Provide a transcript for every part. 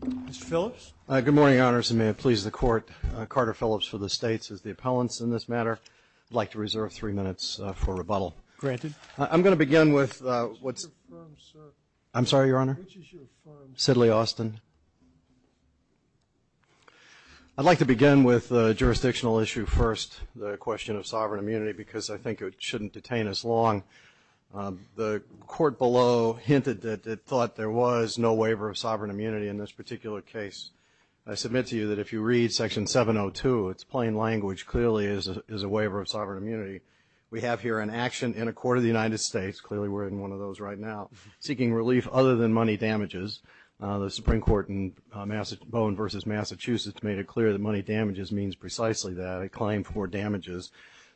Mr. Phillips? Good morning, Your Honors, and may it please the Court, Carter Phillips for the States is the appellant in this matter. I'd like to reserve three minutes for rebuttal. Granted. I'm going to begin with what's- Which is your firm, sir? I'm sorry, Your Honor? Which is your firm? Sidley Austin. I'd like to begin with a jurisdictional issue first, the question of sovereign immunity, because I think it shouldn't detain us long. The Court below hinted that it thought there was no waiver of sovereign immunity in this particular case. I submit to you that if you read Section 702, its plain language clearly is a waiver of sovereign immunity. We have here an action in a court of the United States, clearly we're in one of those right now, seeking relief other than money damages. The Supreme Court in Bowen v. Massachusetts made it clear that money damages means precisely that, a claim for damages,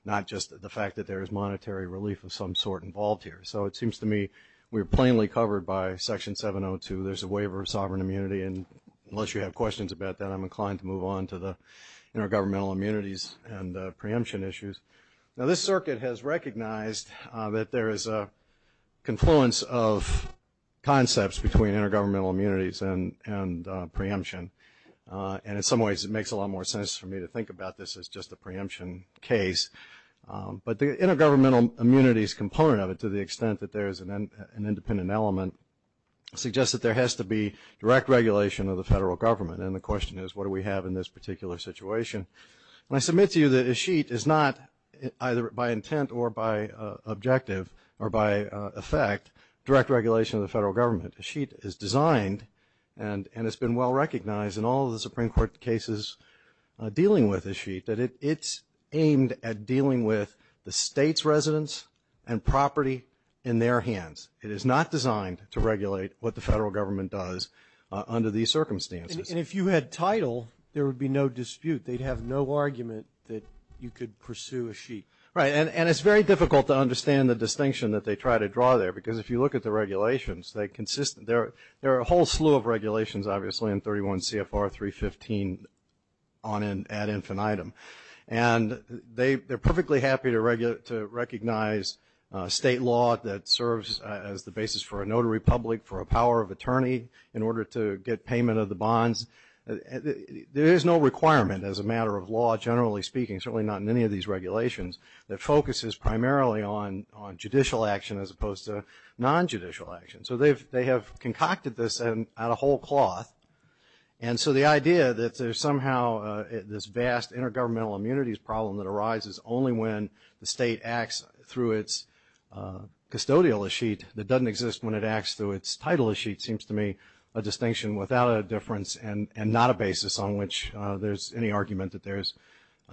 not just the fact that there is monetary relief of some sort involved here. So it seems to me we're plainly covered by Section 702. There's a waiver of sovereign immunity, and unless you have questions about that, I'm inclined to move on to the intergovernmental immunities and preemption issues. Now, this circuit has recognized that there is a confluence of concepts between intergovernmental immunities and preemption, and in some ways it makes a lot more sense for me to think about this as just a preemption case. But the intergovernmental immunities component of it, to the extent that there is an independent element, suggests that there has to be direct regulation of the federal government, and the question is what do we have in this particular situation? And I submit to you that a sheet is not either by intent or by objective or by effect direct regulation of the federal government. A sheet is designed and has been well recognized in all the Supreme Court cases dealing with a sheet, that it's aimed at dealing with the state's residents and property in their hands. It is not designed to regulate what the federal government does under these circumstances. And if you had title, there would be no dispute. They'd have no argument that you could pursue a sheet. Right, and it's very difficult to understand the distinction that they try to draw there, because if you look at the regulations, they're consistent. There are a whole slew of regulations, obviously, in 31 CFR 315 ad infinitum, and they're perfectly happy to recognize state law that serves as the basis for a notary public, for a power of attorney in order to get payment of the bonds. There is no requirement as a matter of law, generally speaking, certainly not in any of these regulations, that focuses primarily on judicial action as opposed to non-judicial action. So they have concocted this out of whole cloth. And so the idea that there's somehow this vast intergovernmental immunities problem that arises only when the state acts through its custodial sheet that doesn't exist when it acts through its title sheet seems to me a distinction without a difference and not a basis on which there's any argument that there's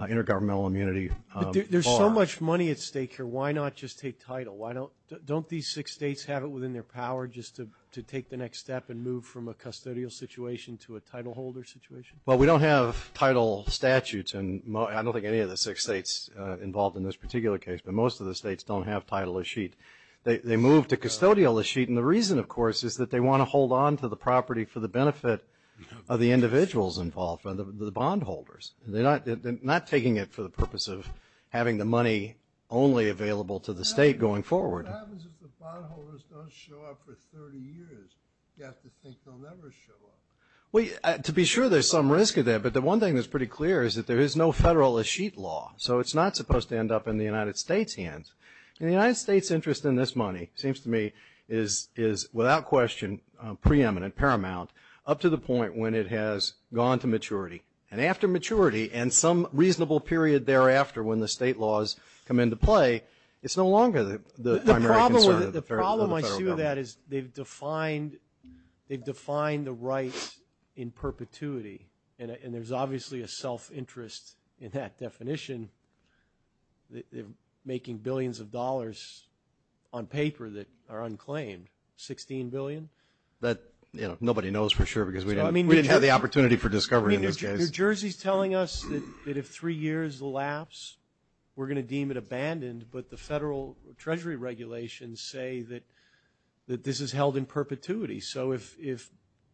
intergovernmental immunity. There's so much money at stake here, why not just take title? Don't these six states have it within their power just to take the next step and move from a custodial situation to a title holder situation? Well, we don't have title statutes, and I don't think any of the six states involved in this particular case, but most of the states don't have title of sheet. They move to custodial of sheet, and the reason, of course, is that they want to hold on to the property for the benefit of the individuals involved, the bond holders. They're not taking it for the purpose of having the money only available to the state going forward. What happens if the bond holders don't show up for 30 years? You have to think they'll never show up. Well, to be sure, there's some risk of that. But the one thing that's pretty clear is that there is no federal sheet law, so it's not supposed to end up in the United States' hands. And the United States' interest in this money seems to me is without question preeminent, paramount, up to the point when it has gone to maturity. And after maturity and some reasonable period thereafter when the state laws come into play, it's no longer the primary concern of the federal government. The problem I see with that is they've defined the rights in perpetuity, and there's obviously a self-interest in that definition. They're making billions of dollars on paper that are unclaimed, $16 billion. Nobody knows for sure because we didn't have the opportunity for discovery in this case. New Jersey is telling us that if three years lapse, we're going to deem it abandoned, but the federal treasury regulations say that this is held in perpetuity. So if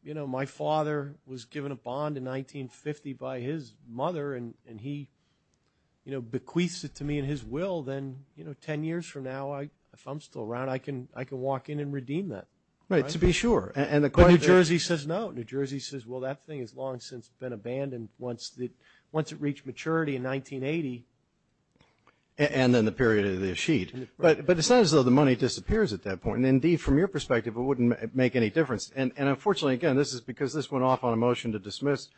my father was given a bond in 1950 by his mother and he bequeaths it to me in his will, then 10 years from now, if I'm still around, I can walk in and redeem that. Right, to be sure. But New Jersey says no. New Jersey says, well, that thing has long since been abandoned once it reached maturity in 1980. And then the period of the sheet. But it's not as though the money disappears at that point. And indeed, from your perspective, it wouldn't make any difference. And unfortunately, again, this is because this went off on a motion to dismiss,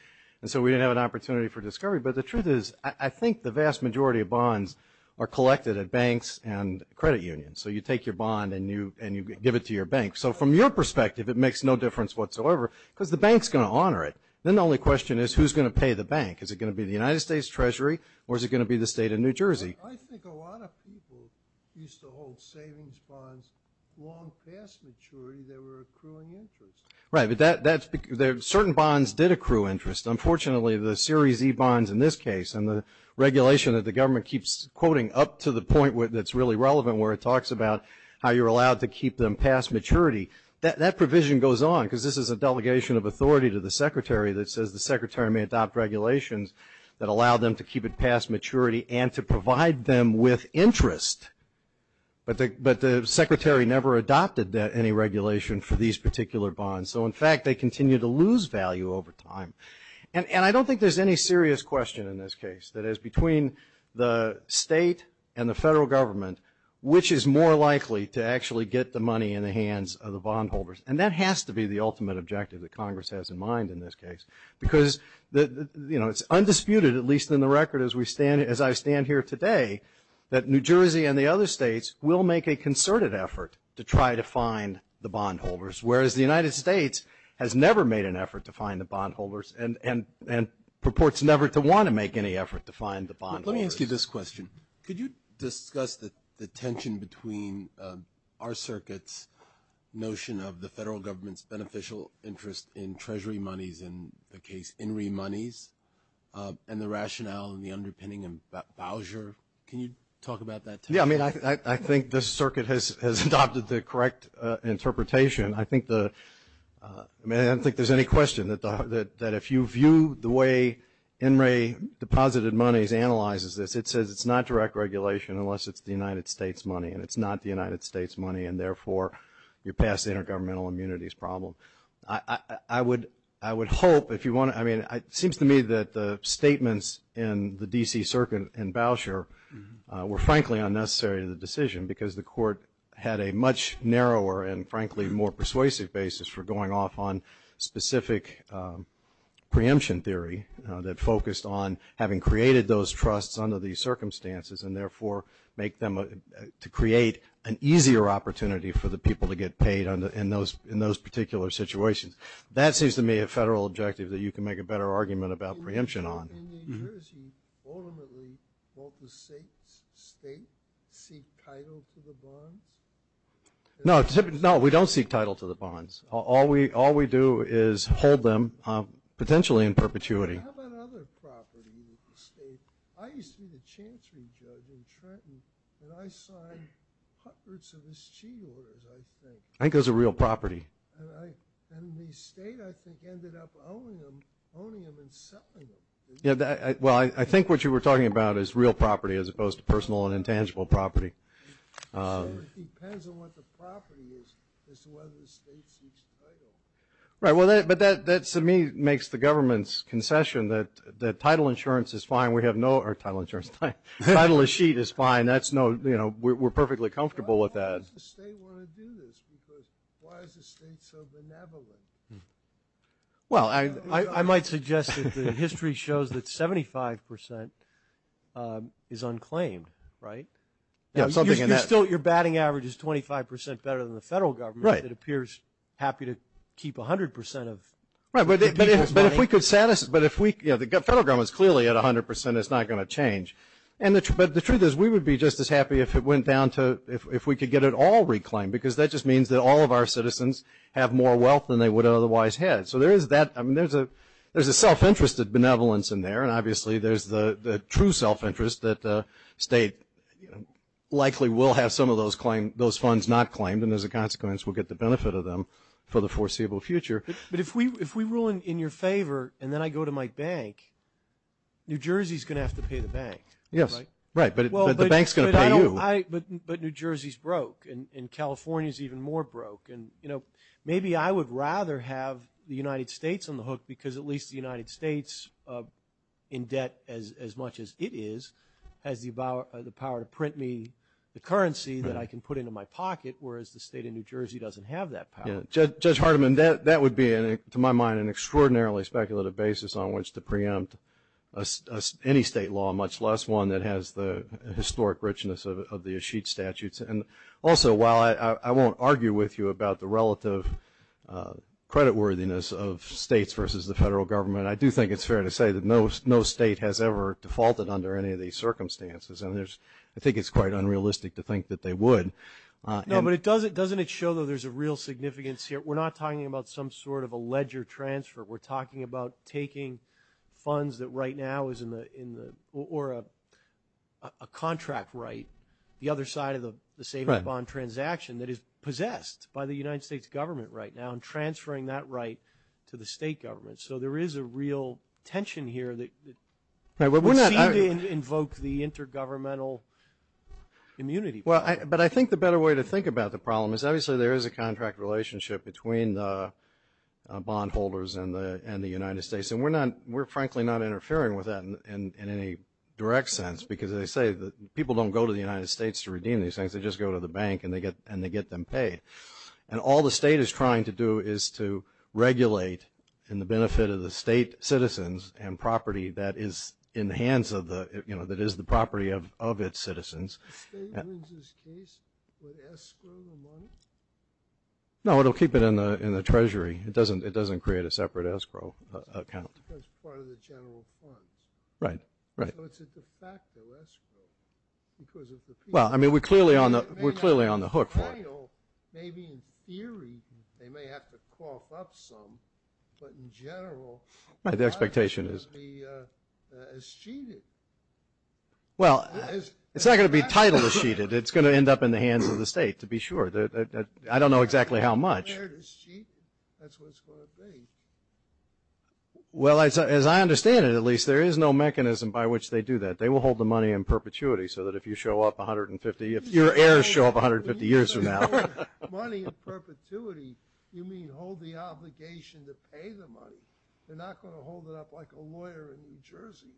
and so we didn't have an opportunity for discovery. But the truth is I think the vast majority of bonds are collected at banks and credit unions. So you take your bond and you give it to your bank. So from your perspective, it makes no difference whatsoever because the bank's going to honor it. Then the only question is who's going to pay the bank? Is it going to be the United States Treasury or is it going to be the state of New Jersey? I think a lot of people used to hold savings bonds long past maturity that were accruing interest. Right, but certain bonds did accrue interest. Unfortunately, the Series E bonds in this case and the regulation that the government keeps quoting up to the point that's really relevant where it talks about how you're allowed to keep them past maturity, that provision goes on because this is a delegation of authority to the secretary that says the secretary may adopt regulations that allow them to keep it past maturity and to provide them with interest. But the secretary never adopted any regulation for these particular bonds. So, in fact, they continue to lose value over time. And I don't think there's any serious question in this case. That is, between the state and the federal government, which is more likely to actually get the money in the hands of the bondholders? And that has to be the ultimate objective that Congress has in mind in this case because it's undisputed, at least in the record as I stand here today, that New Jersey and the other states will make a concerted effort to try to find the bondholders, whereas the United States has never made an effort to find the bondholders and purports never to want to make any effort to find the bondholders. Let me ask you this question. Could you discuss the tension between our circuit's notion of the federal government's beneficial interest in treasury monies, in the case, in remonies, and the rationale and the underpinning in Bowser? Can you talk about that? Yeah, I mean, I think this circuit has adopted the correct interpretation. I think the – I mean, I don't think there's any question that if you view the way In re Deposited Monies analyzes this, it says it's not direct regulation unless it's the United States money, and it's not the United States money, and therefore you pass the intergovernmental immunities problem. I would hope if you want to – I mean, it seems to me that the statements in the D.C. circuit and Bowser were frankly unnecessary in the decision because the court had a much narrower and frankly more persuasive basis for going off on specific preemption theory that focused on having created those trusts under these circumstances and therefore make them – to create an easier opportunity for the people to get paid in those particular situations. That seems to me a federal objective that you can make a better argument about preemption on. In New Jersey, ultimately, won't the state seek title to the bonds? No, we don't seek title to the bonds. All we do is hold them potentially in perpetuity. How about other property in the state? I used to be the chancery judge in Trenton, and I signed hundreds of mischief orders, I think. I think those are real property. And the state, I think, ended up owning them and selling them. Well, I think what you were talking about is real property as opposed to personal and intangible property. So it depends on what the property is as to whether the state seeks title. Right, but that to me makes the government's concession that title insurance is fine. We have no – or title insurance. Title of sheet is fine. We're perfectly comfortable with that. Why does the state want to do this? Because why is the state so benevolent? Well, I might suggest that the history shows that 75 percent is unclaimed, right? You're still – your batting average is 25 percent better than the federal government. Right. It appears happy to keep 100 percent of the people's money. Right, but if we could – but if we – you know, the federal government is clearly at 100 percent. It's not going to change. But the truth is we would be just as happy if it went down to – if we could get it all reclaimed, because that just means that all of our citizens have more wealth than they would have otherwise had. So there is that – I mean, there's a self-interest of benevolence in there, and obviously there's the true self-interest that the state likely will have some of those funds not claimed, and as a consequence will get the benefit of them for the foreseeable future. But if we rule in your favor and then I go to my bank, New Jersey is going to have to pay the bank. Yes. Right, but the bank is going to pay you. But New Jersey is broke, and California is even more broke. And, you know, maybe I would rather have the United States on the hook, because at least the United States, in debt as much as it is, has the power to print me the currency that I can put into my pocket, whereas the state of New Jersey doesn't have that power. Yeah, Judge Hardiman, that would be, to my mind, an extraordinarily speculative basis on which to preempt any state law, much less one that has the historic richness of the Ashik statutes. And also, while I won't argue with you about the relative creditworthiness of states versus the federal government, I do think it's fair to say that no state has ever defaulted under any of these circumstances, and I think it's quite unrealistic to think that they would. No, but doesn't it show that there's a real significance here? We're not talking about some sort of a ledger transfer. We're talking about taking funds that right now is in the or a contract right, the other side of the savings bond transaction that is possessed by the United States government right now and transferring that right to the state government. So there is a real tension here that would seem to invoke the intergovernmental immunity. Well, but I think the better way to think about the problem is, obviously, there is a contract relationship between the bondholders and the United States, and we're frankly not interfering with that in any direct sense, because they say that people don't go to the United States to redeem these things. They just go to the bank and they get them paid. And all the state is trying to do is to regulate in the benefit of the state citizens and property that is in the hands of the, you know, that is the property of its citizens. The state wins this case with escrow money? No, it will keep it in the treasury. It doesn't create a separate escrow account. It's part of the general fund. Right, right. So it's a de facto escrow because of the people. Well, I mean, we're clearly on the hook for it. Maybe in theory they may have to cough up some, but in general. Right, the expectation is. It's cheated. Well, it's not going to be titled as cheated. It's going to end up in the hands of the state, to be sure. I don't know exactly how much. That's what it's going to be. Well, as I understand it, at least, there is no mechanism by which they do that. They will hold the money in perpetuity so that if you show up 150, if your heirs show up 150 years from now. Money in perpetuity, you mean hold the obligation to pay the money. They're not going to hold it up like a lawyer in New Jersey.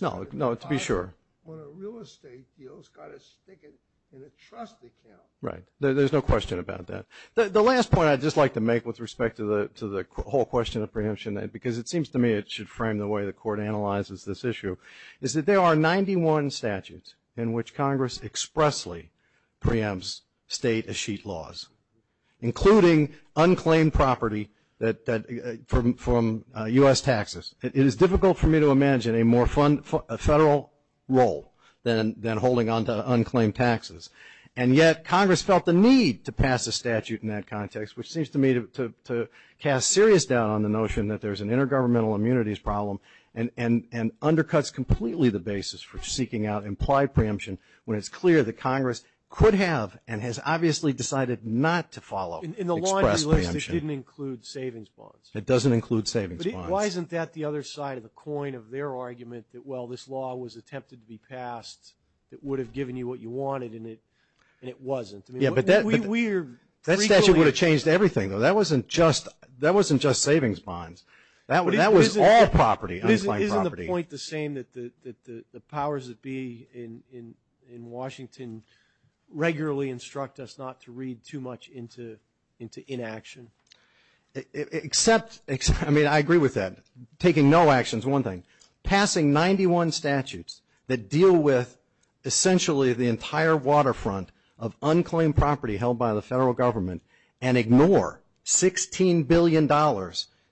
No, no, to be sure. When a real estate deals, got to stick it in a trust account. Right. There's no question about that. The last point I'd just like to make with respect to the whole question of preemption, because it seems to me it should frame the way the court analyzes this issue, is that there are 91 statutes in which Congress expressly preempts state a sheet laws, including unclaimed property from U.S. taxes. It is difficult for me to imagine a more federal role than holding on to unclaimed taxes. And yet, Congress felt the need to pass a statute in that context, which seems to me to cast serious doubt on the notion that there's an intergovernmental immunities problem and undercuts completely the basis for seeking out implied preemption when it's clear that Congress could have and has obviously decided not to follow express preemption. In the law, at least, it didn't include savings bonds. It doesn't include savings bonds. But why isn't that the other side of the coin of their argument that, well, this law was attempted to be passed that would have given you what you wanted and it wasn't? Yeah, but that statute would have changed everything. That wasn't just savings bonds. That was all property, unclaimed property. Isn't the point the same that the powers that be in Washington regularly instruct us not to read too much into inaction? Except, I mean, I agree with that. Taking no action is one thing. Passing 91 statutes that deal with essentially the entire waterfront of unclaimed property held by the federal government and ignore $16 billion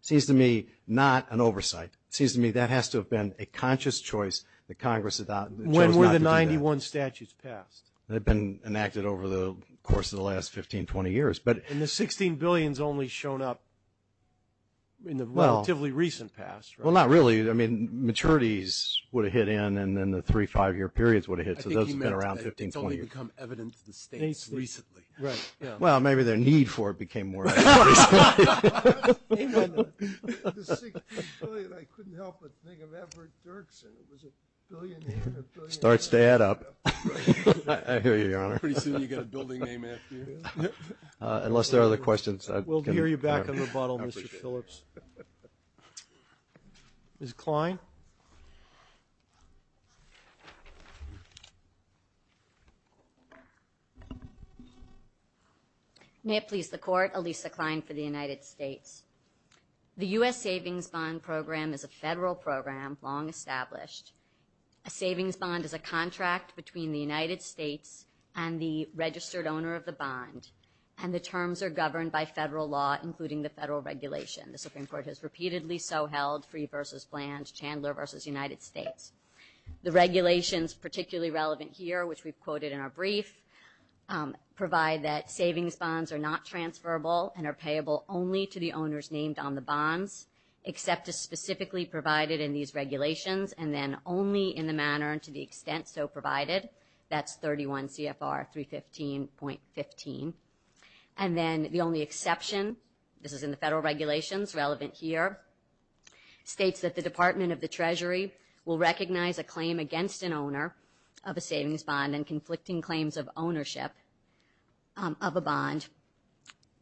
seems to me not an oversight. It seems to me that has to have been a conscious choice that Congress chose not to do that. When were the 91 statutes passed? They've been enacted over the course of the last 15, 20 years. And the $16 billion has only shown up in the relatively recent past. Well, not really. I mean, maturities would have hit in and then the three, five-year periods would have hit. So those have been around 15, 20 years. It's only become evident to the states recently. Well, maybe their need for it became more evident recently. The $16 billion, I couldn't help but think of Everett Dirksen. Starts to add up. I hear you, Your Honor. Pretty soon you'll get a building name after you. Unless there are other questions. We'll hear you back in rebuttal, Mr. Phillips. Ms. Kline. May it please the Court. Alisa Kline for the United States. The U.S. Savings Bond Program is a federal program, long established. A savings bond is a contract between the United States and the registered owner of the bond, and the terms are governed by federal law, including the federal regulation. The Supreme Court has repeatedly so held, Free v. Bland, Chandler v. United States. The regulations particularly relevant here, which we've quoted in our brief, provide that savings bonds are not transferable and are payable only to the owners named on the bonds, except as specifically provided in these regulations, and then only in the manner and to the extent so provided. That's 31 CFR 315.15. And then the only exception, this is in the federal regulations relevant here, states that the Department of the Treasury will recognize a claim against an owner of a savings bond and conflicting claims of ownership of a bond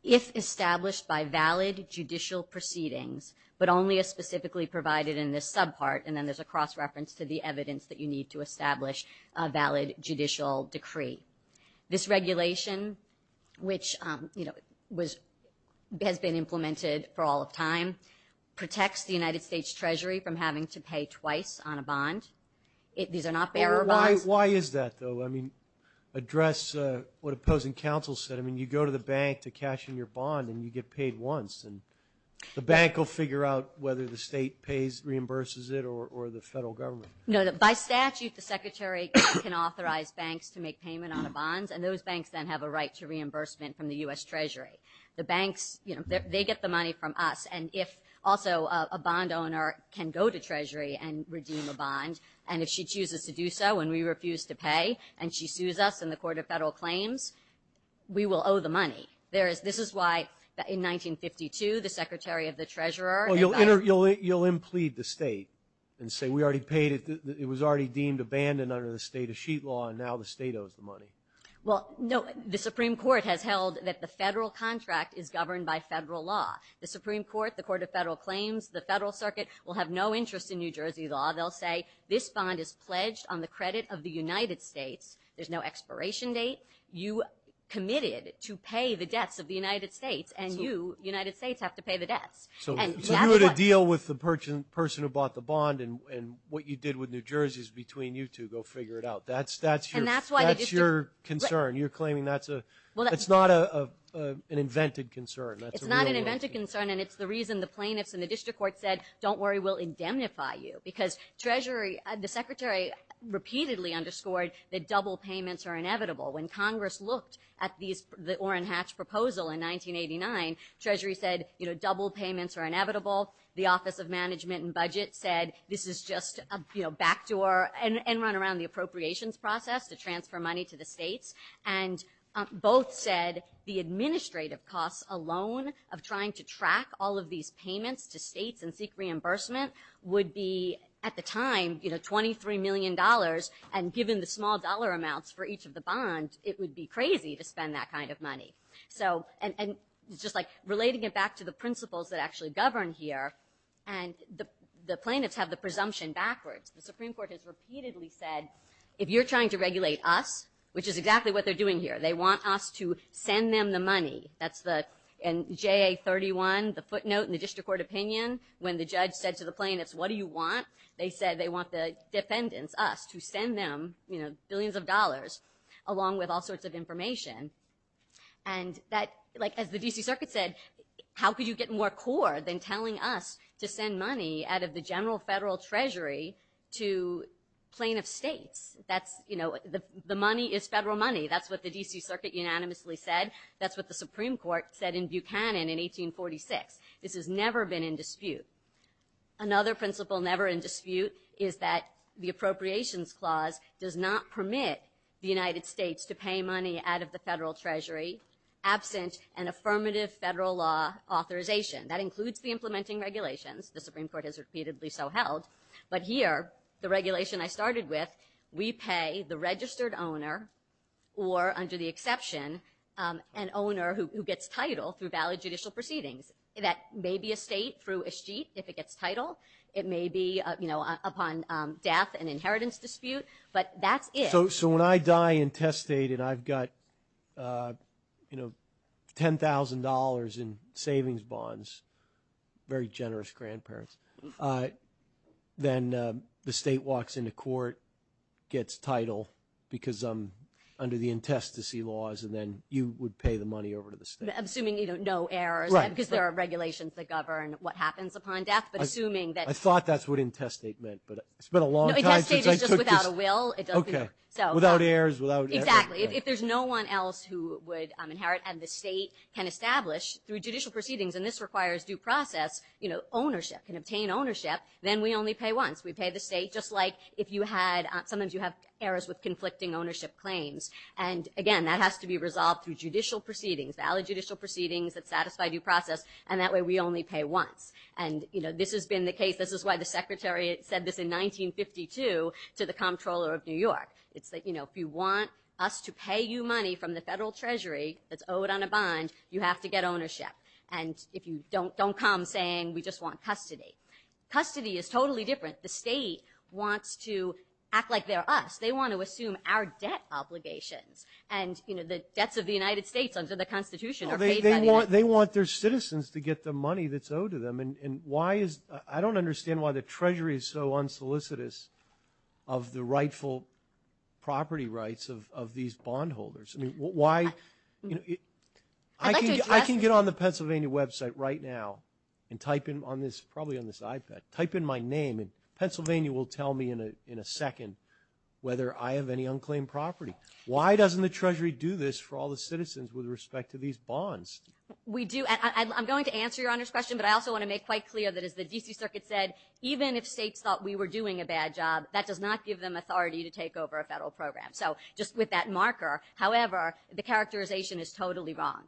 if established by valid judicial proceedings, but only as specifically provided in this subpart, and then there's a cross-reference to the evidence that you need to establish a valid judicial decree. This regulation, which, you know, has been implemented for all of time, protects the United States Treasury from having to pay twice on a bond. These are not bearer bonds. Why is that, though? I mean, address what opposing counsel said. I mean, you go to the bank to cash in your bond and you get paid once, and the bank will figure out whether the state pays, reimburses it, or the federal government. No, by statute, the secretary can authorize banks to make payment on the bonds, and those banks then have a right to reimbursement from the U.S. Treasury. The banks, you know, they get the money from us, and if also a bond owner can go to Treasury and redeem a bond, and if she chooses to do so and we refuse to pay, and she sues us in the court of federal claims, we will owe the money. This is why, in 1952, the secretary of the treasurer advised... Well, you'll implead the state and say, we already paid it, it was already deemed abandoned under the state of sheet law, and now the state owes the money. Well, no, the Supreme Court has held that the federal contract is governed by federal law. The Supreme Court, the court of federal claims, the federal circuit, will have no interest in New Jersey law. They'll say, this bond is pledged on the credit of the United States. There's no expiration date. You committed to pay the debts of the United States, and you, United States, have to pay the debts. So you had a deal with the person who bought the bond, and what you did with New Jersey is between you two. Go figure it out. That's your concern. You're claiming that's a... It's not an invented concern. It's not an invented concern, and it's the reason the plaintiffs in the district court said, don't worry, we'll indemnify you, because Treasury, the secretary repeatedly underscored that double payments are inevitable. When Congress looked at the Orrin Hatch proposal in 1989, Treasury said, double payments are inevitable. The Office of Management and Budget said, this is just a backdoor, and run around the appropriations process to transfer money to the states, and both said the administrative costs alone of trying to track all of these payments to states and seek reimbursement would be, at the time, $23 million, and given the small dollar amounts for each of the bonds, it would be crazy to spend that kind of money. So, and just like, relating it back to the principles that actually govern here, and the plaintiffs have the presumption backwards. The Supreme Court has repeatedly said, if you're trying to regulate us, which is exactly what they're doing here, they want us to send them the money. That's the, in JA31, the footnote in the district court opinion, when the judge said to the plaintiffs, what do you want? They said they want the defendants, us, to send them, you know, billions of dollars, along with all sorts of information, and that, like, as the D.C. Circuit said, how could you get more core than telling us to send money out of the general federal treasury to plaintiff states? That's, you know, the money is federal money. That's what the D.C. Circuit unanimously said. That's what the Supreme Court said in Buchanan in 1846. This has never been in dispute. Another principle never in dispute is that the Appropriations Clause does not permit the United States to pay money out of the federal treasury absent an affirmative federal law authorization. That includes the implementing regulations. The Supreme Court has repeatedly so held. But here, the regulation I started with, we pay the registered owner, or under the exception, an owner who gets title through valid judicial proceedings. That may be a state through a sheet if it gets title. It may be, you know, upon death an inheritance dispute, but that's it. So when I die intestate and I've got, you know, $10,000 in savings bonds, very generous grandparents, then the state walks into court, gets title because I'm under the intestacy laws, and then you would pay the money over to the state. I'm assuming, you know, no errors, because there are regulations that govern what happens upon death, but assuming that... I thought that's what intestate meant, but... No, intestate is just without a will. Okay, without errors, without... Exactly, if there's no one else who would inherit and the state can establish through judicial proceedings, and this requires due process, you know, ownership, can obtain ownership, then we only pay once. We pay the state, just like if you had, sometimes you have errors with conflicting ownership claims, and again, that has to be resolved through judicial proceedings, valid judicial proceedings that satisfy due process, and that way we only pay once. And, you know, this has been the case, this is why the secretary said this in 1952 to the Comptroller of New York. It's that, you know, if you want us to pay you money from the federal treasury that's owed on a bond, you have to get ownership, and if you don't, don't come saying we just want custody. Custody is totally different. The state wants to act like they're us. They want to assume our debt obligations, and, you know, the debts of the United States under the Constitution are paid by the United States. They want their citizens to get the money that's owed to them, and why is, I don't understand why the treasury is so unsolicitous of the rightful property rights of these bondholders. I mean, why, you know, I can get on the Pennsylvania website right now and type in on this, probably on this iPad, type in my name, and Pennsylvania will tell me in a second whether I have any unclaimed property. Why doesn't the treasury do this for all the citizens with respect to these bonds? We do, and I'm going to answer Your Honor's question, but I also want to make quite clear that as the D.C. Circuit said, even if states thought we were doing a bad job, that does not give them authority to take over a federal program, so just with that marker, however, the characterization is totally wrong.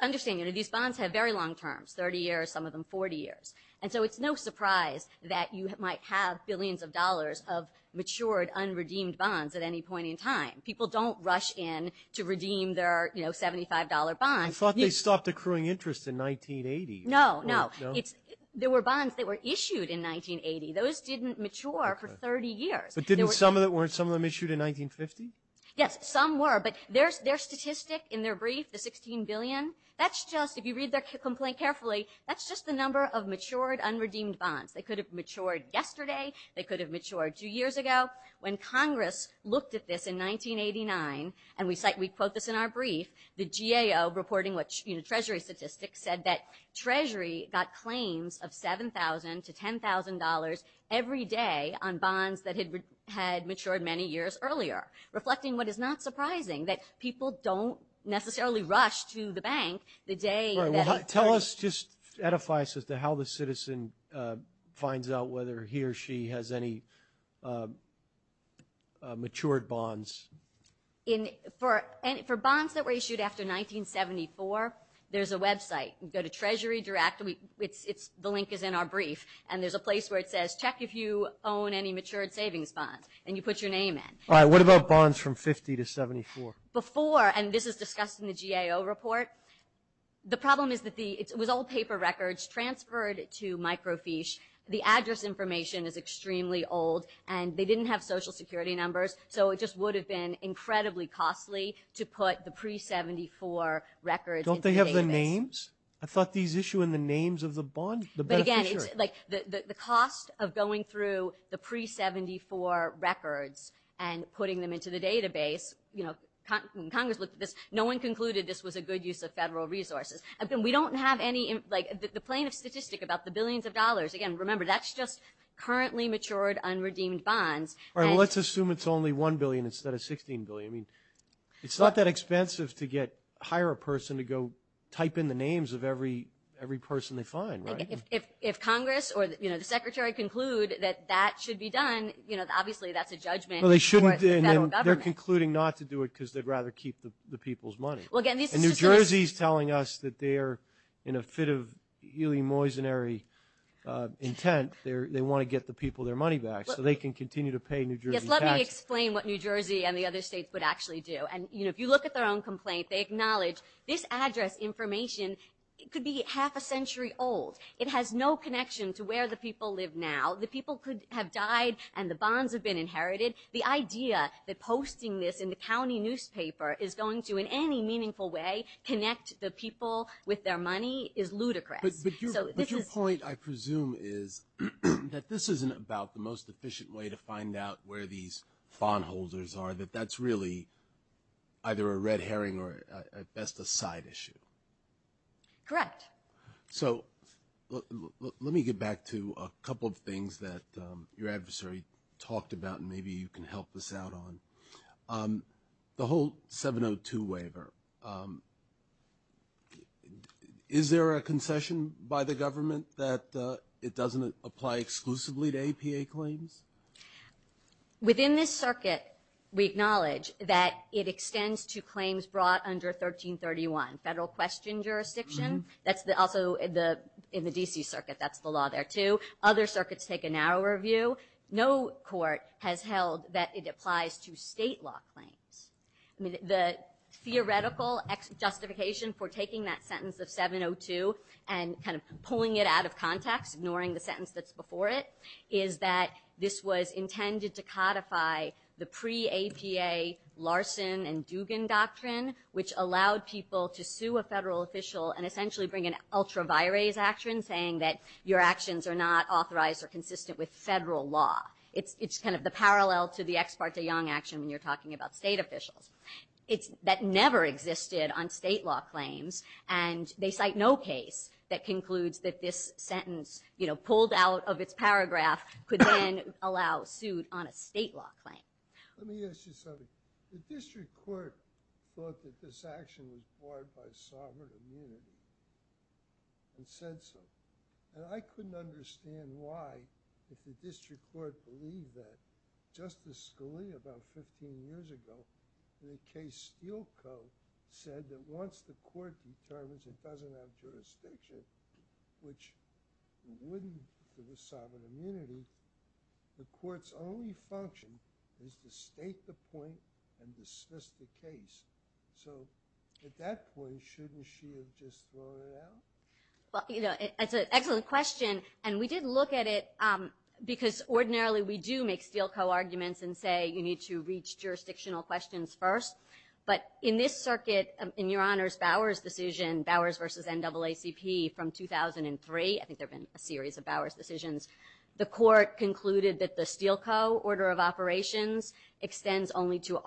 Understand, you know, these bonds have very long terms, 30 years, some of them 40 years, and so it's no surprise that you might have billions of dollars of matured, unredeemed bonds at any point in time. People don't rush in to redeem their, you know, $75 bond. I thought they stopped accruing interest in 1980. No, no. There were bonds that were issued in 1980. Those didn't mature for 30 years. But didn't some of them, weren't some of them issued in 1950? Yes, some were, but their statistic in their brief, the 16 billion, that's just, if you read their complaint carefully, that's just the number of matured, unredeemed bonds. They could have matured yesterday, they could have matured two years ago. When Congress looked at this in 1989, and we cite, we quote this in our brief, the GAO reporting what Treasury statistics said that Treasury got claims of $7,000 to $10,000 every day on bonds that had matured many years earlier, reflecting what is not surprising, that people don't necessarily rush to the bank the day that... Right, well, tell us, just edify this as to how the citizen finds out whether he or she has any matured bonds. For bonds that were issued after 1974, there's a website. You go to Treasury Direct, the link is in our brief, and there's a place where it says, check if you own any matured savings bonds, and you put your name in. All right, what about bonds from 50 to 74? Before, and this is discussed in the GAO report, the problem is that it was all paper records transferred to microfiche. The address information is extremely old, and they didn't have Social Security numbers, so it just would have been incredibly costly to put the pre-'74 records into the database. Don't they have the names? I thought these issue in the names of the bond beneficiaries. But again, the cost of going through the pre-'74 records and putting them into the database, you know, Congress looked at this, no one concluded this was a good use of federal resources. We don't have any... The plane of statistic about the billions of dollars, again, remember, that's just currently matured, unredeemed bonds. All right, well, let's assume it's only $1 billion instead of $16 billion. I mean, it's not that expensive to hire a person to go type in the names of every person they find, right? If Congress or the Secretary conclude that that should be done, obviously that's a judgment for the federal government. Well, they shouldn't, and they're concluding not to do it because they'd rather keep the people's money. Well, again, this is just... And New Jersey's telling us that they are in a fit of really moisonary intent. They want to get the people their money back so they can continue to pay New Jersey taxes. Yes, let me explain what New Jersey and the other states would actually do. And, you know, if you look at their own complaint, they acknowledge this address information could be half a century old. It has no connection to where the people live now. The people could have died, and the bonds have been inherited. The idea that posting this in the county newspaper is going to in any meaningful way connect the people with their money is ludicrous. But your point, I presume, is that this isn't about the most efficient way to find out where these fawn holders are, that that's really either a red herring or at best a side issue. Correct. So let me get back to a couple of things that your adversary talked about and maybe you can help us out on. The whole 702 waiver, is there a concession by the government that it doesn't apply exclusively to APA claims? Within this circuit, we acknowledge that it extends to claims brought under 1331, federal question jurisdiction. That's also in the D.C. circuit. That's the law there, too. Other circuits take a narrower view. No court has held that it applies to state law claims. The theoretical justification for taking that sentence of 702 and kind of pulling it out of context, ignoring the sentence that's before it, is that this was intended to codify the pre-APA Larson and Dugan doctrine, which allowed people to sue a federal official and essentially bring an ultra-virase action, saying that your actions are not authorized or consistent with federal law. It's kind of the parallel to the Ex Parte Young action when you're talking about state officials. That never existed on state law claims, and they cite no case that concludes that this sentence pulled out of its paragraph could then allow suit on a state law claim. Let me ask you something. The district court thought that this action was barred by sovereign immunity and said so. And I couldn't understand why the district court believed that. Justice Scalia about 15 years ago in the case Steele Co. said that once the court determines it doesn't have jurisdiction, which it wouldn't if it was sovereign immunity, the court's only function is to state the point and dismiss the case. So at that point, shouldn't she have just thrown it out? That's an excellent question, and we did look at it because ordinarily we do make Steele Co. arguments and say you need to reach jurisdictional questions first. But in this circuit, in Your Honor's Bowers decision, Bowers v. NAACP from 2003, I think there have been a series of Bowers decisions, the court concluded that the Steele Co. order of operations extends only to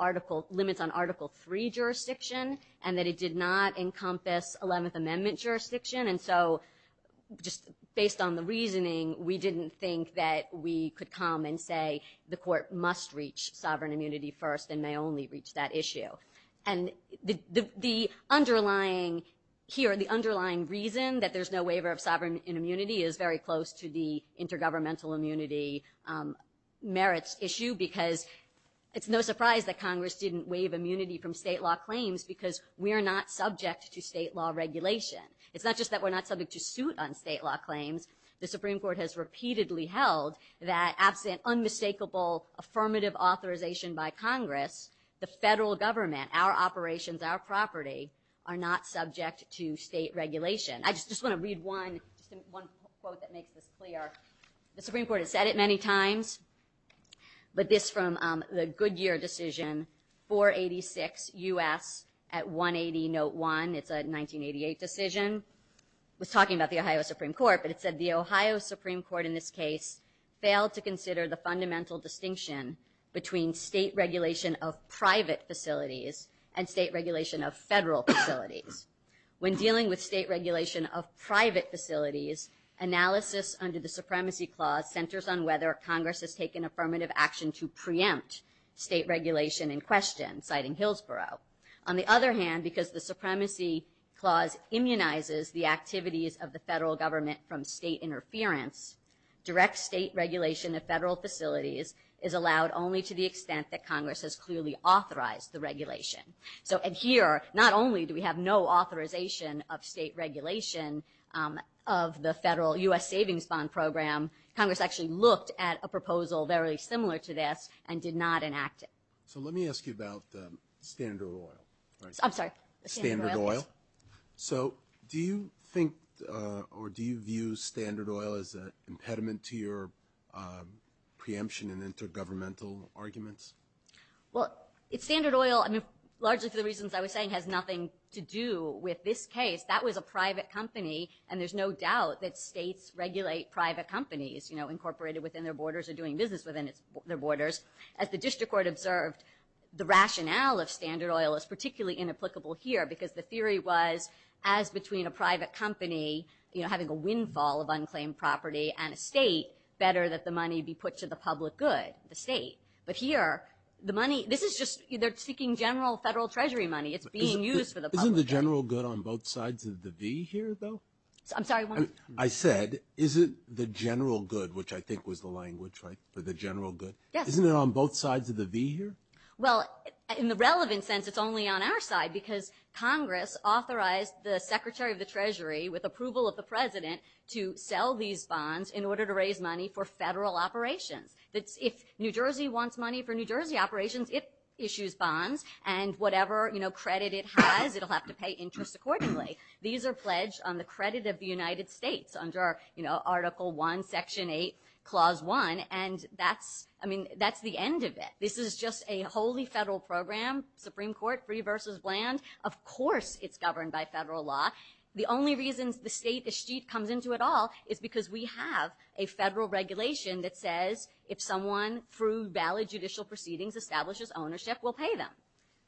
limits on Article III jurisdiction and that it did not encompass Eleventh Amendment jurisdiction. And so just based on the reasoning, we didn't think that we could come and say the court must reach sovereign immunity first and may only reach that issue. And here the underlying reason that there's no waiver of sovereign immunity is very close to the intergovernmental immunity merits issue because it's no surprise that Congress didn't waive immunity from state law claims because we are not subject to state law regulation. It's not just that we're not subject to suit on state law claims. The Supreme Court has repeatedly held that absent unmistakable affirmative authorization by Congress, the federal government, our operations, our property, are not subject to state regulation. I just want to read one quote that makes this clear. The Supreme Court has said it many times, but this from the Goodyear decision, 486 U.S. at 180 Note 1. It's a 1988 decision. It was talking about the Ohio Supreme Court, but it said the Ohio Supreme Court in this case failed to consider the fundamental distinction between state regulation of private facilities and state regulation of federal facilities. When dealing with state regulation of private facilities, analysis under the Supremacy Clause centers on whether Congress has taken affirmative action to preempt state regulation in question, citing Hillsborough. On the other hand, because the Supremacy Clause immunizes the activities of the federal government from state interference, direct state regulation of federal facilities is allowed only to the extent that Congress has clearly authorized the regulation. Here, not only do we have no authorization of state regulation of the federal U.S. savings bond program, Congress actually looked at a proposal very similar to this and did not enact it. Let me ask you about Standard Oil. I'm sorry. Standard Oil. Do you think or do you view Standard Oil as an impediment to your preemption in intergovernmental arguments? Well, Standard Oil, largely for the reasons I was saying, has nothing to do with this case. That was a private company, and there's no doubt that states regulate private companies incorporated within their borders or doing business within their borders. As the District Court observed, the rationale of Standard Oil is particularly inapplicable here because the theory was as between a private company having a windfall of unclaimed property and a state, better that the money be put to the public good, the state. But here, the money, this is just, they're seeking general federal treasury money. It's being used for the public good. Isn't the general good on both sides of the V here, though? I'm sorry. I said, isn't the general good, which I think was the language, right, for the general good, isn't it on both sides of the V here? Well, in the relevant sense, it's only on our side because Congress authorized the Secretary of the Treasury with approval of the President to sell these bonds in order to raise money for federal operations. If New Jersey wants money for New Jersey operations, it issues bonds, and whatever credit it has, it'll have to pay interest accordingly. These are pledged on the credit of the United States under Article I, Section 8, Clause 1, and that's the end of it. This is just a wholly federal program, Supreme Court, free versus bland. Of course it's governed by federal law. The only reasons the state, the state comes into it all is because we have a federal regulation that says if someone through valid judicial proceedings establishes ownership, we'll pay them.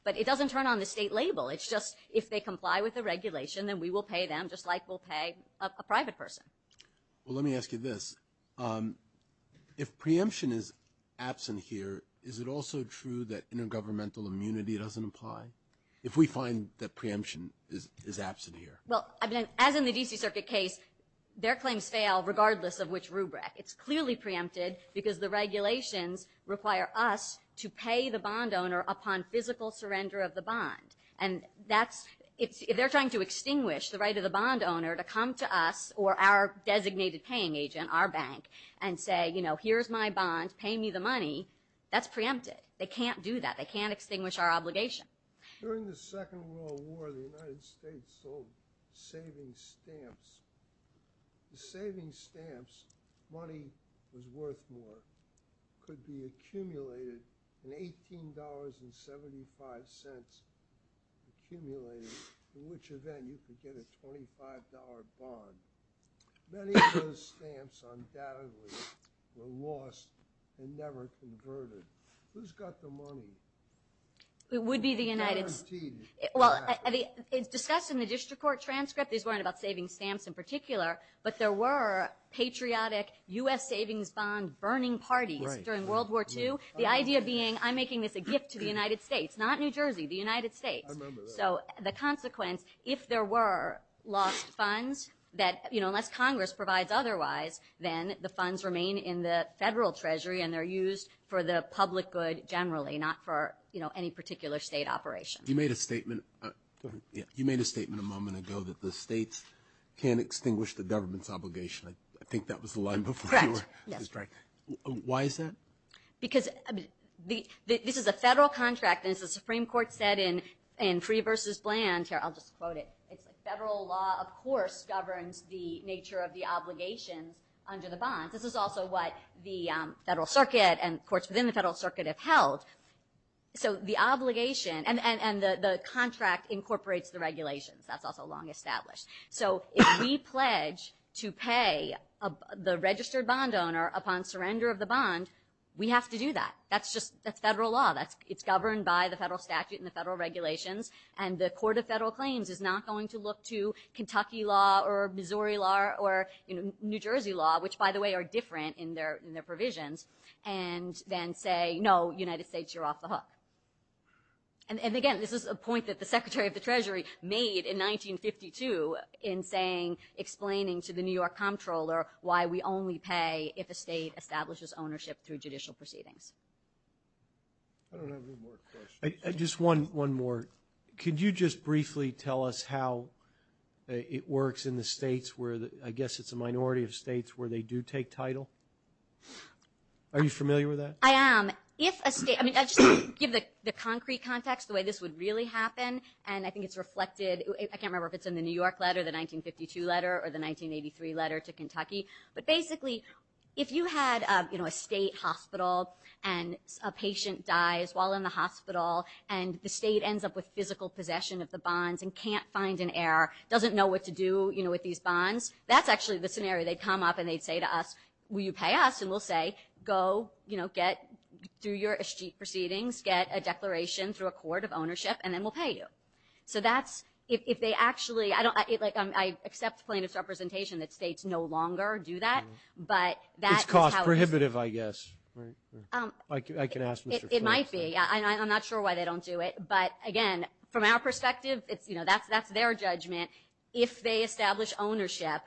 But it doesn't turn on the state label. It's just if they comply with the regulation, then we will pay them just like we'll pay a private person. Well, let me ask you this. If preemption is absent here, is it also true that intergovernmental immunity doesn't apply if we find that preemption is absent here? Well, as in the D.C. Circuit case, their claims fail regardless of which rubric. It's clearly preempted because the regulations require us to pay the bond owner upon physical surrender of the bond. And that's... If they're trying to extinguish the right of the bond owner to come to us or our designated paying agent, our bank, and say, you know, here's my bond, pay me the money, that's preempted. They can't do that. They can't extinguish our obligation. During the Second World War, the United States sold savings stamps. The savings stamps, money was worth more, could be accumulated in $18.75, accumulated in which event you could get a $25 bond. Many of those stamps undoubtedly were lost and never converted. Who's got the money? It would be the United States. Well, it's discussed in the district court transcript. These weren't about savings stamps in particular, but there were patriotic U.S. savings bond burning parties during World War II. The idea being I'm making this a gift to the United States, not New Jersey, the United States. So the consequence, if there were lost funds that, you know, unless Congress provides otherwise, then the funds remain in the federal treasury and they're used for the public good generally, not for, you know, any particular state operation. You made a statement a moment ago that the states can't extinguish the government's obligation. I think that was the line before you were distracted. Correct, yes. Why is that? Because this is a federal contract, and as the Supreme Court said in Free versus Bland here, I'll just quote it. It's like federal law, of course, governs the nature of the obligations under the bonds. This is also what the federal circuit and courts within the federal circuit have held. So the obligation and the contract incorporates the regulations. That's also long established. So if we pledge to pay the registered bond owner upon surrender of the bond, we have to do that. That's just federal law. It's governed by the federal statute and the federal regulations, and the Court of Federal Claims is not going to look to Kentucky law or Missouri law or, you know, New Jersey law, which, by the way, are different in their provisions, and then say, no, United States, you're off the hook. And again, this is a point that the Secretary of the Treasury made in 1952 in saying, explaining to the New York comptroller why we only pay if a state establishes ownership through judicial proceedings. I don't have any more questions. Just one more. Could you just briefly tell us how it works in the states where, I guess it's a minority of states where they do take title? Are you familiar with that? I am. If a state, I mean, I'll just give the concrete context, the way this would really happen, and I think it's reflected, I can't remember if it's in the New York letter, the 1952 letter, or the 1983 letter to Kentucky, but basically if you had, you know, a state hospital and a patient dies while in the hospital and the state ends up with physical possession of the bonds and can't find an heir, doesn't know what to do, you know, with these bonds, that's actually the scenario. They'd come up and they'd say to us, will you pay us? And we'll say, go, you know, get through your proceedings, get a declaration through a court of ownership, and then we'll pay you. So that's if they actually, like I accept plaintiff's representation that states no longer do that, but that is how it is. It's cost prohibitive, I guess, right? I can ask Mr. Flint. It might be. I'm not sure why they don't do it. But, again, from our perspective, you know, that's their judgment. If they establish ownership,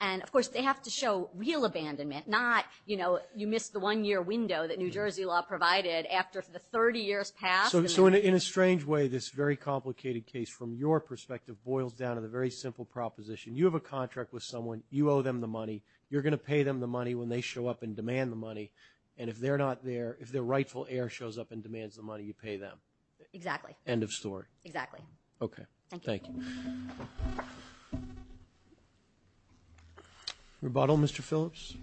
and, of course, they have to show real abandonment, not, you know, you missed the one-year window that New Jersey law provided after the 30 years passed. So in a strange way, this very complicated case, from your perspective, boils down to the very simple proposition. You have a contract with someone. You owe them the money. You're going to pay them the money when they show up and demand the money. And if they're not there, if their rightful heir shows up and demands the money, you pay them. Exactly. End of story. Exactly. Okay. Thank you. Rebuttal, Mr. Phillips?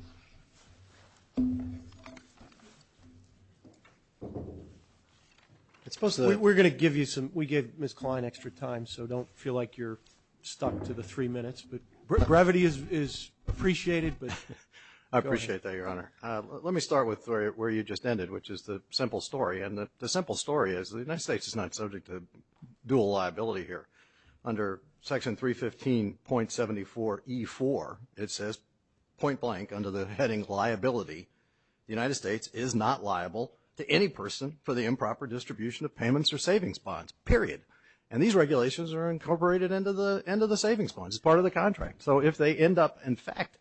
We're going to give you some – we gave Ms. Klein extra time, so don't feel like you're stuck to the three minutes. But gravity is appreciated. I appreciate that, Your Honor. Let me start with where you just ended, which is the simple story. And the simple story is the United States is not subject to dual liability here. Under Section 315.74E4, it says, point blank, under the heading liability, the United States is not liable to any person for the improper distribution of payments or savings bonds, period. And these regulations are incorporated into the savings bonds. It's part of the contract. So if they end up, in fact,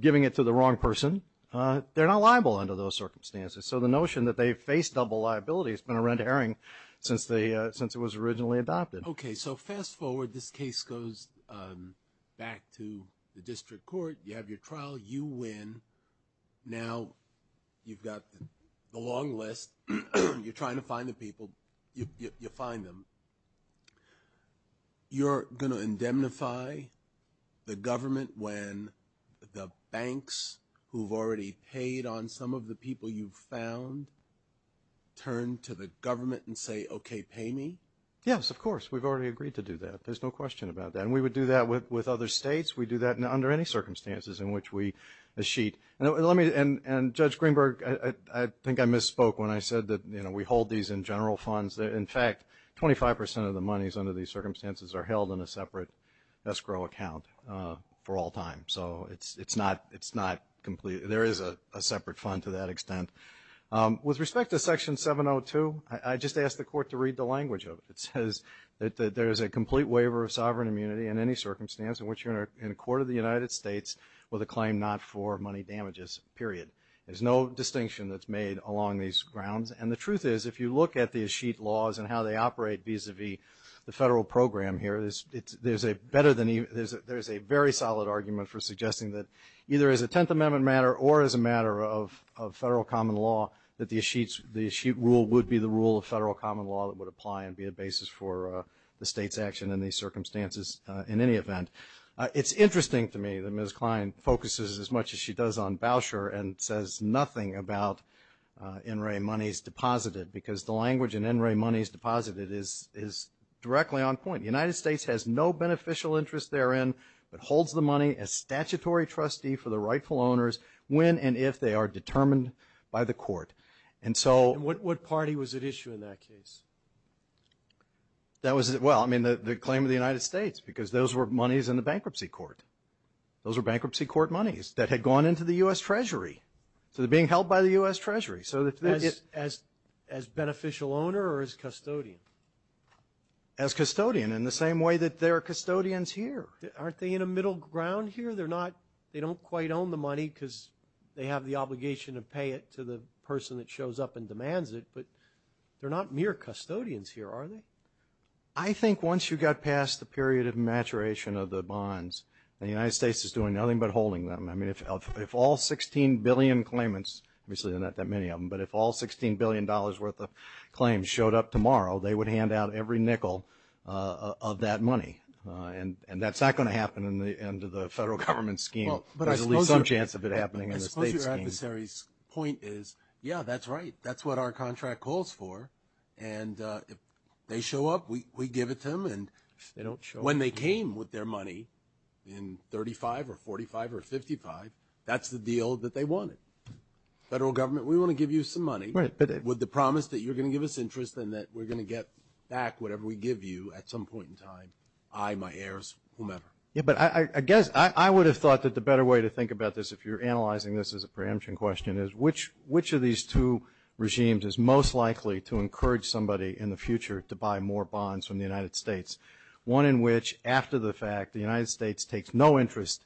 giving it to the wrong person, they're not liable under those circumstances. So the notion that they face double liability has been a rent herring since it was originally adopted. Okay, so fast forward. This case goes back to the district court. You have your trial. You win. Now you've got the long list. You're trying to find the people. You find them. You're going to indemnify the government when the banks, who've already paid on some of the people you've found, turn to the government and say, okay, pay me? Yes, of course. We've already agreed to do that. There's no question about that. And we would do that with other states. We do that under any circumstances in which we sheet. And Judge Greenberg, I think I misspoke when I said that we hold these in general funds. In fact, 25% of the monies under these circumstances are held in a separate escrow account for all time. So it's not complete. There is a separate fund to that extent. With respect to Section 702, I just asked the court to read the language of it. It says that there is a complete waiver of sovereign immunity in any circumstance in which you're in a court of the United States with a claim not for money damages, period. There's no distinction that's made along these grounds. And the truth is, if you look at these sheet laws and how they operate vis-à-vis the federal program here, there's a very solid argument for suggesting that either as a Tenth Amendment matter or as a matter of federal common law that the sheet rule would be the rule of federal common law that would apply and be a basis for the state's action in these circumstances in any event. It's interesting to me that Ms. Klein focuses as much as she does on Bauscher and says nothing about NRA monies deposited because the language in NRA monies deposited is directly on point. The United States has no beneficial interest therein but holds the money as statutory trustee for the rightful owners when and if they are determined by the court. And what party was at issue in that case? Well, I mean the claim of the United States because those were monies in the bankruptcy court. Those were bankruptcy court monies that had gone into the U.S. Treasury. So they're being held by the U.S. Treasury. As beneficial owner or as custodian? As custodian in the same way that there are custodians here. Aren't they in a middle ground here? They don't quite own the money because they have the obligation to pay it to the person that shows up and demands it, but they're not mere custodians here, are they? I think once you get past the period of maturation of the bonds, the United States is doing nothing but holding them. I mean if all 16 billion claimants, obviously there are not that many of them, but if all $16 billion worth of claims showed up tomorrow, they would hand out every nickel of that money. And that's not going to happen in the end of the federal government scheme. There's at least some chance of it happening in the state scheme. I suppose your adversary's point is, yeah, that's right. That's what our contract calls for. And if they show up, we give it to them. And when they came with their money in 35 or 45 or 55, that's the deal that they wanted. Federal government, we want to give you some money with the promise that you're going to give us interest and that we're going to get back whatever we give you at some point in time, I, my heirs, whomever. Yeah, but I guess I would have thought that the better way to think about this, if you're analyzing this as a preemption question, is which of these two regimes is most likely to encourage somebody in the future to buy more bonds from the United States? One in which after the fact the United States takes no interest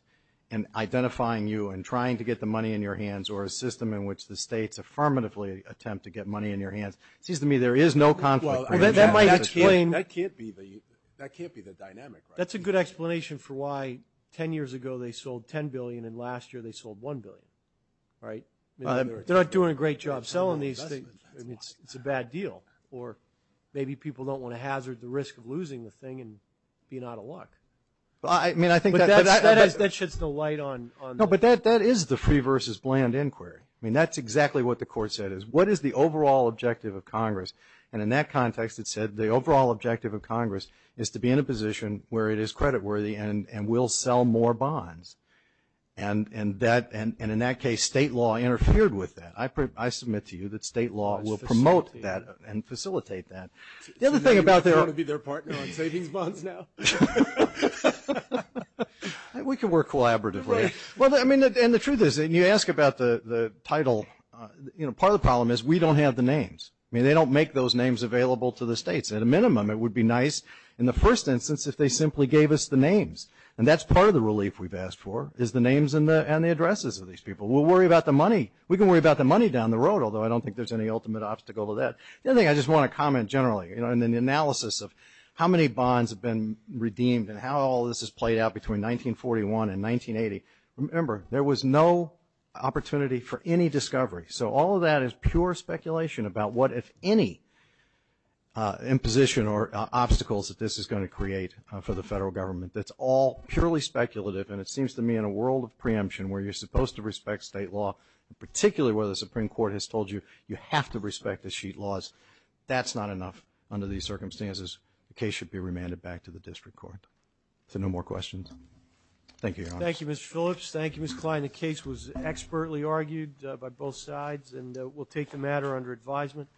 in identifying you and trying to get the money in your hands or a system in which the states affirmatively attempt to get money in your hands. It seems to me there is no conflict. Well, that might explain. That can't be the dynamic, right? That's a good explanation for why 10 years ago they sold $10 billion and last year they sold $1 billion, right? They're not doing a great job selling these things. It's a bad deal. Or maybe people don't want to hazard the risk of losing the thing and being out of luck. I mean, I think that's. That sheds the light on. No, but that is the free versus bland inquiry. I mean, that's exactly what the court said is. What is the overall objective of Congress? And in that context it said the overall objective of Congress is to be in a position where it is creditworthy and will sell more bonds. And in that case state law interfered with that. I submit to you that state law will promote that and facilitate that. The other thing about their. Do you want to be their partner on savings bonds now? We can work collaboratively. Well, I mean, and the truth is, and you ask about the title, you know, part of the problem is we don't have the names. I mean, they don't make those names available to the states. At a minimum it would be nice in the first instance if they simply gave us the names. And that's part of the relief we've asked for is the names and the addresses of these people. We'll worry about the money. We can worry about the money down the road, although I don't think there's any ultimate obstacle to that. The other thing I just want to comment generally, you know, in the analysis of how many bonds have been redeemed and how all this has played out between 1941 and 1980, remember there was no opportunity for any discovery. So all of that is pure speculation about what, if any, imposition or obstacles that this is going to create for the federal government. That's all purely speculative, and it seems to me in a world of preemption where you're supposed to respect state law, particularly where the Supreme Court has told you you have to respect the sheet laws, that's not enough under these circumstances. The case should be remanded back to the district court. So no more questions? Thank you, Your Honor. Thank you, Mr. Phillips. Thank you, Ms. Kline. The case was expertly argued by both sides, and we'll take the matter under advisement.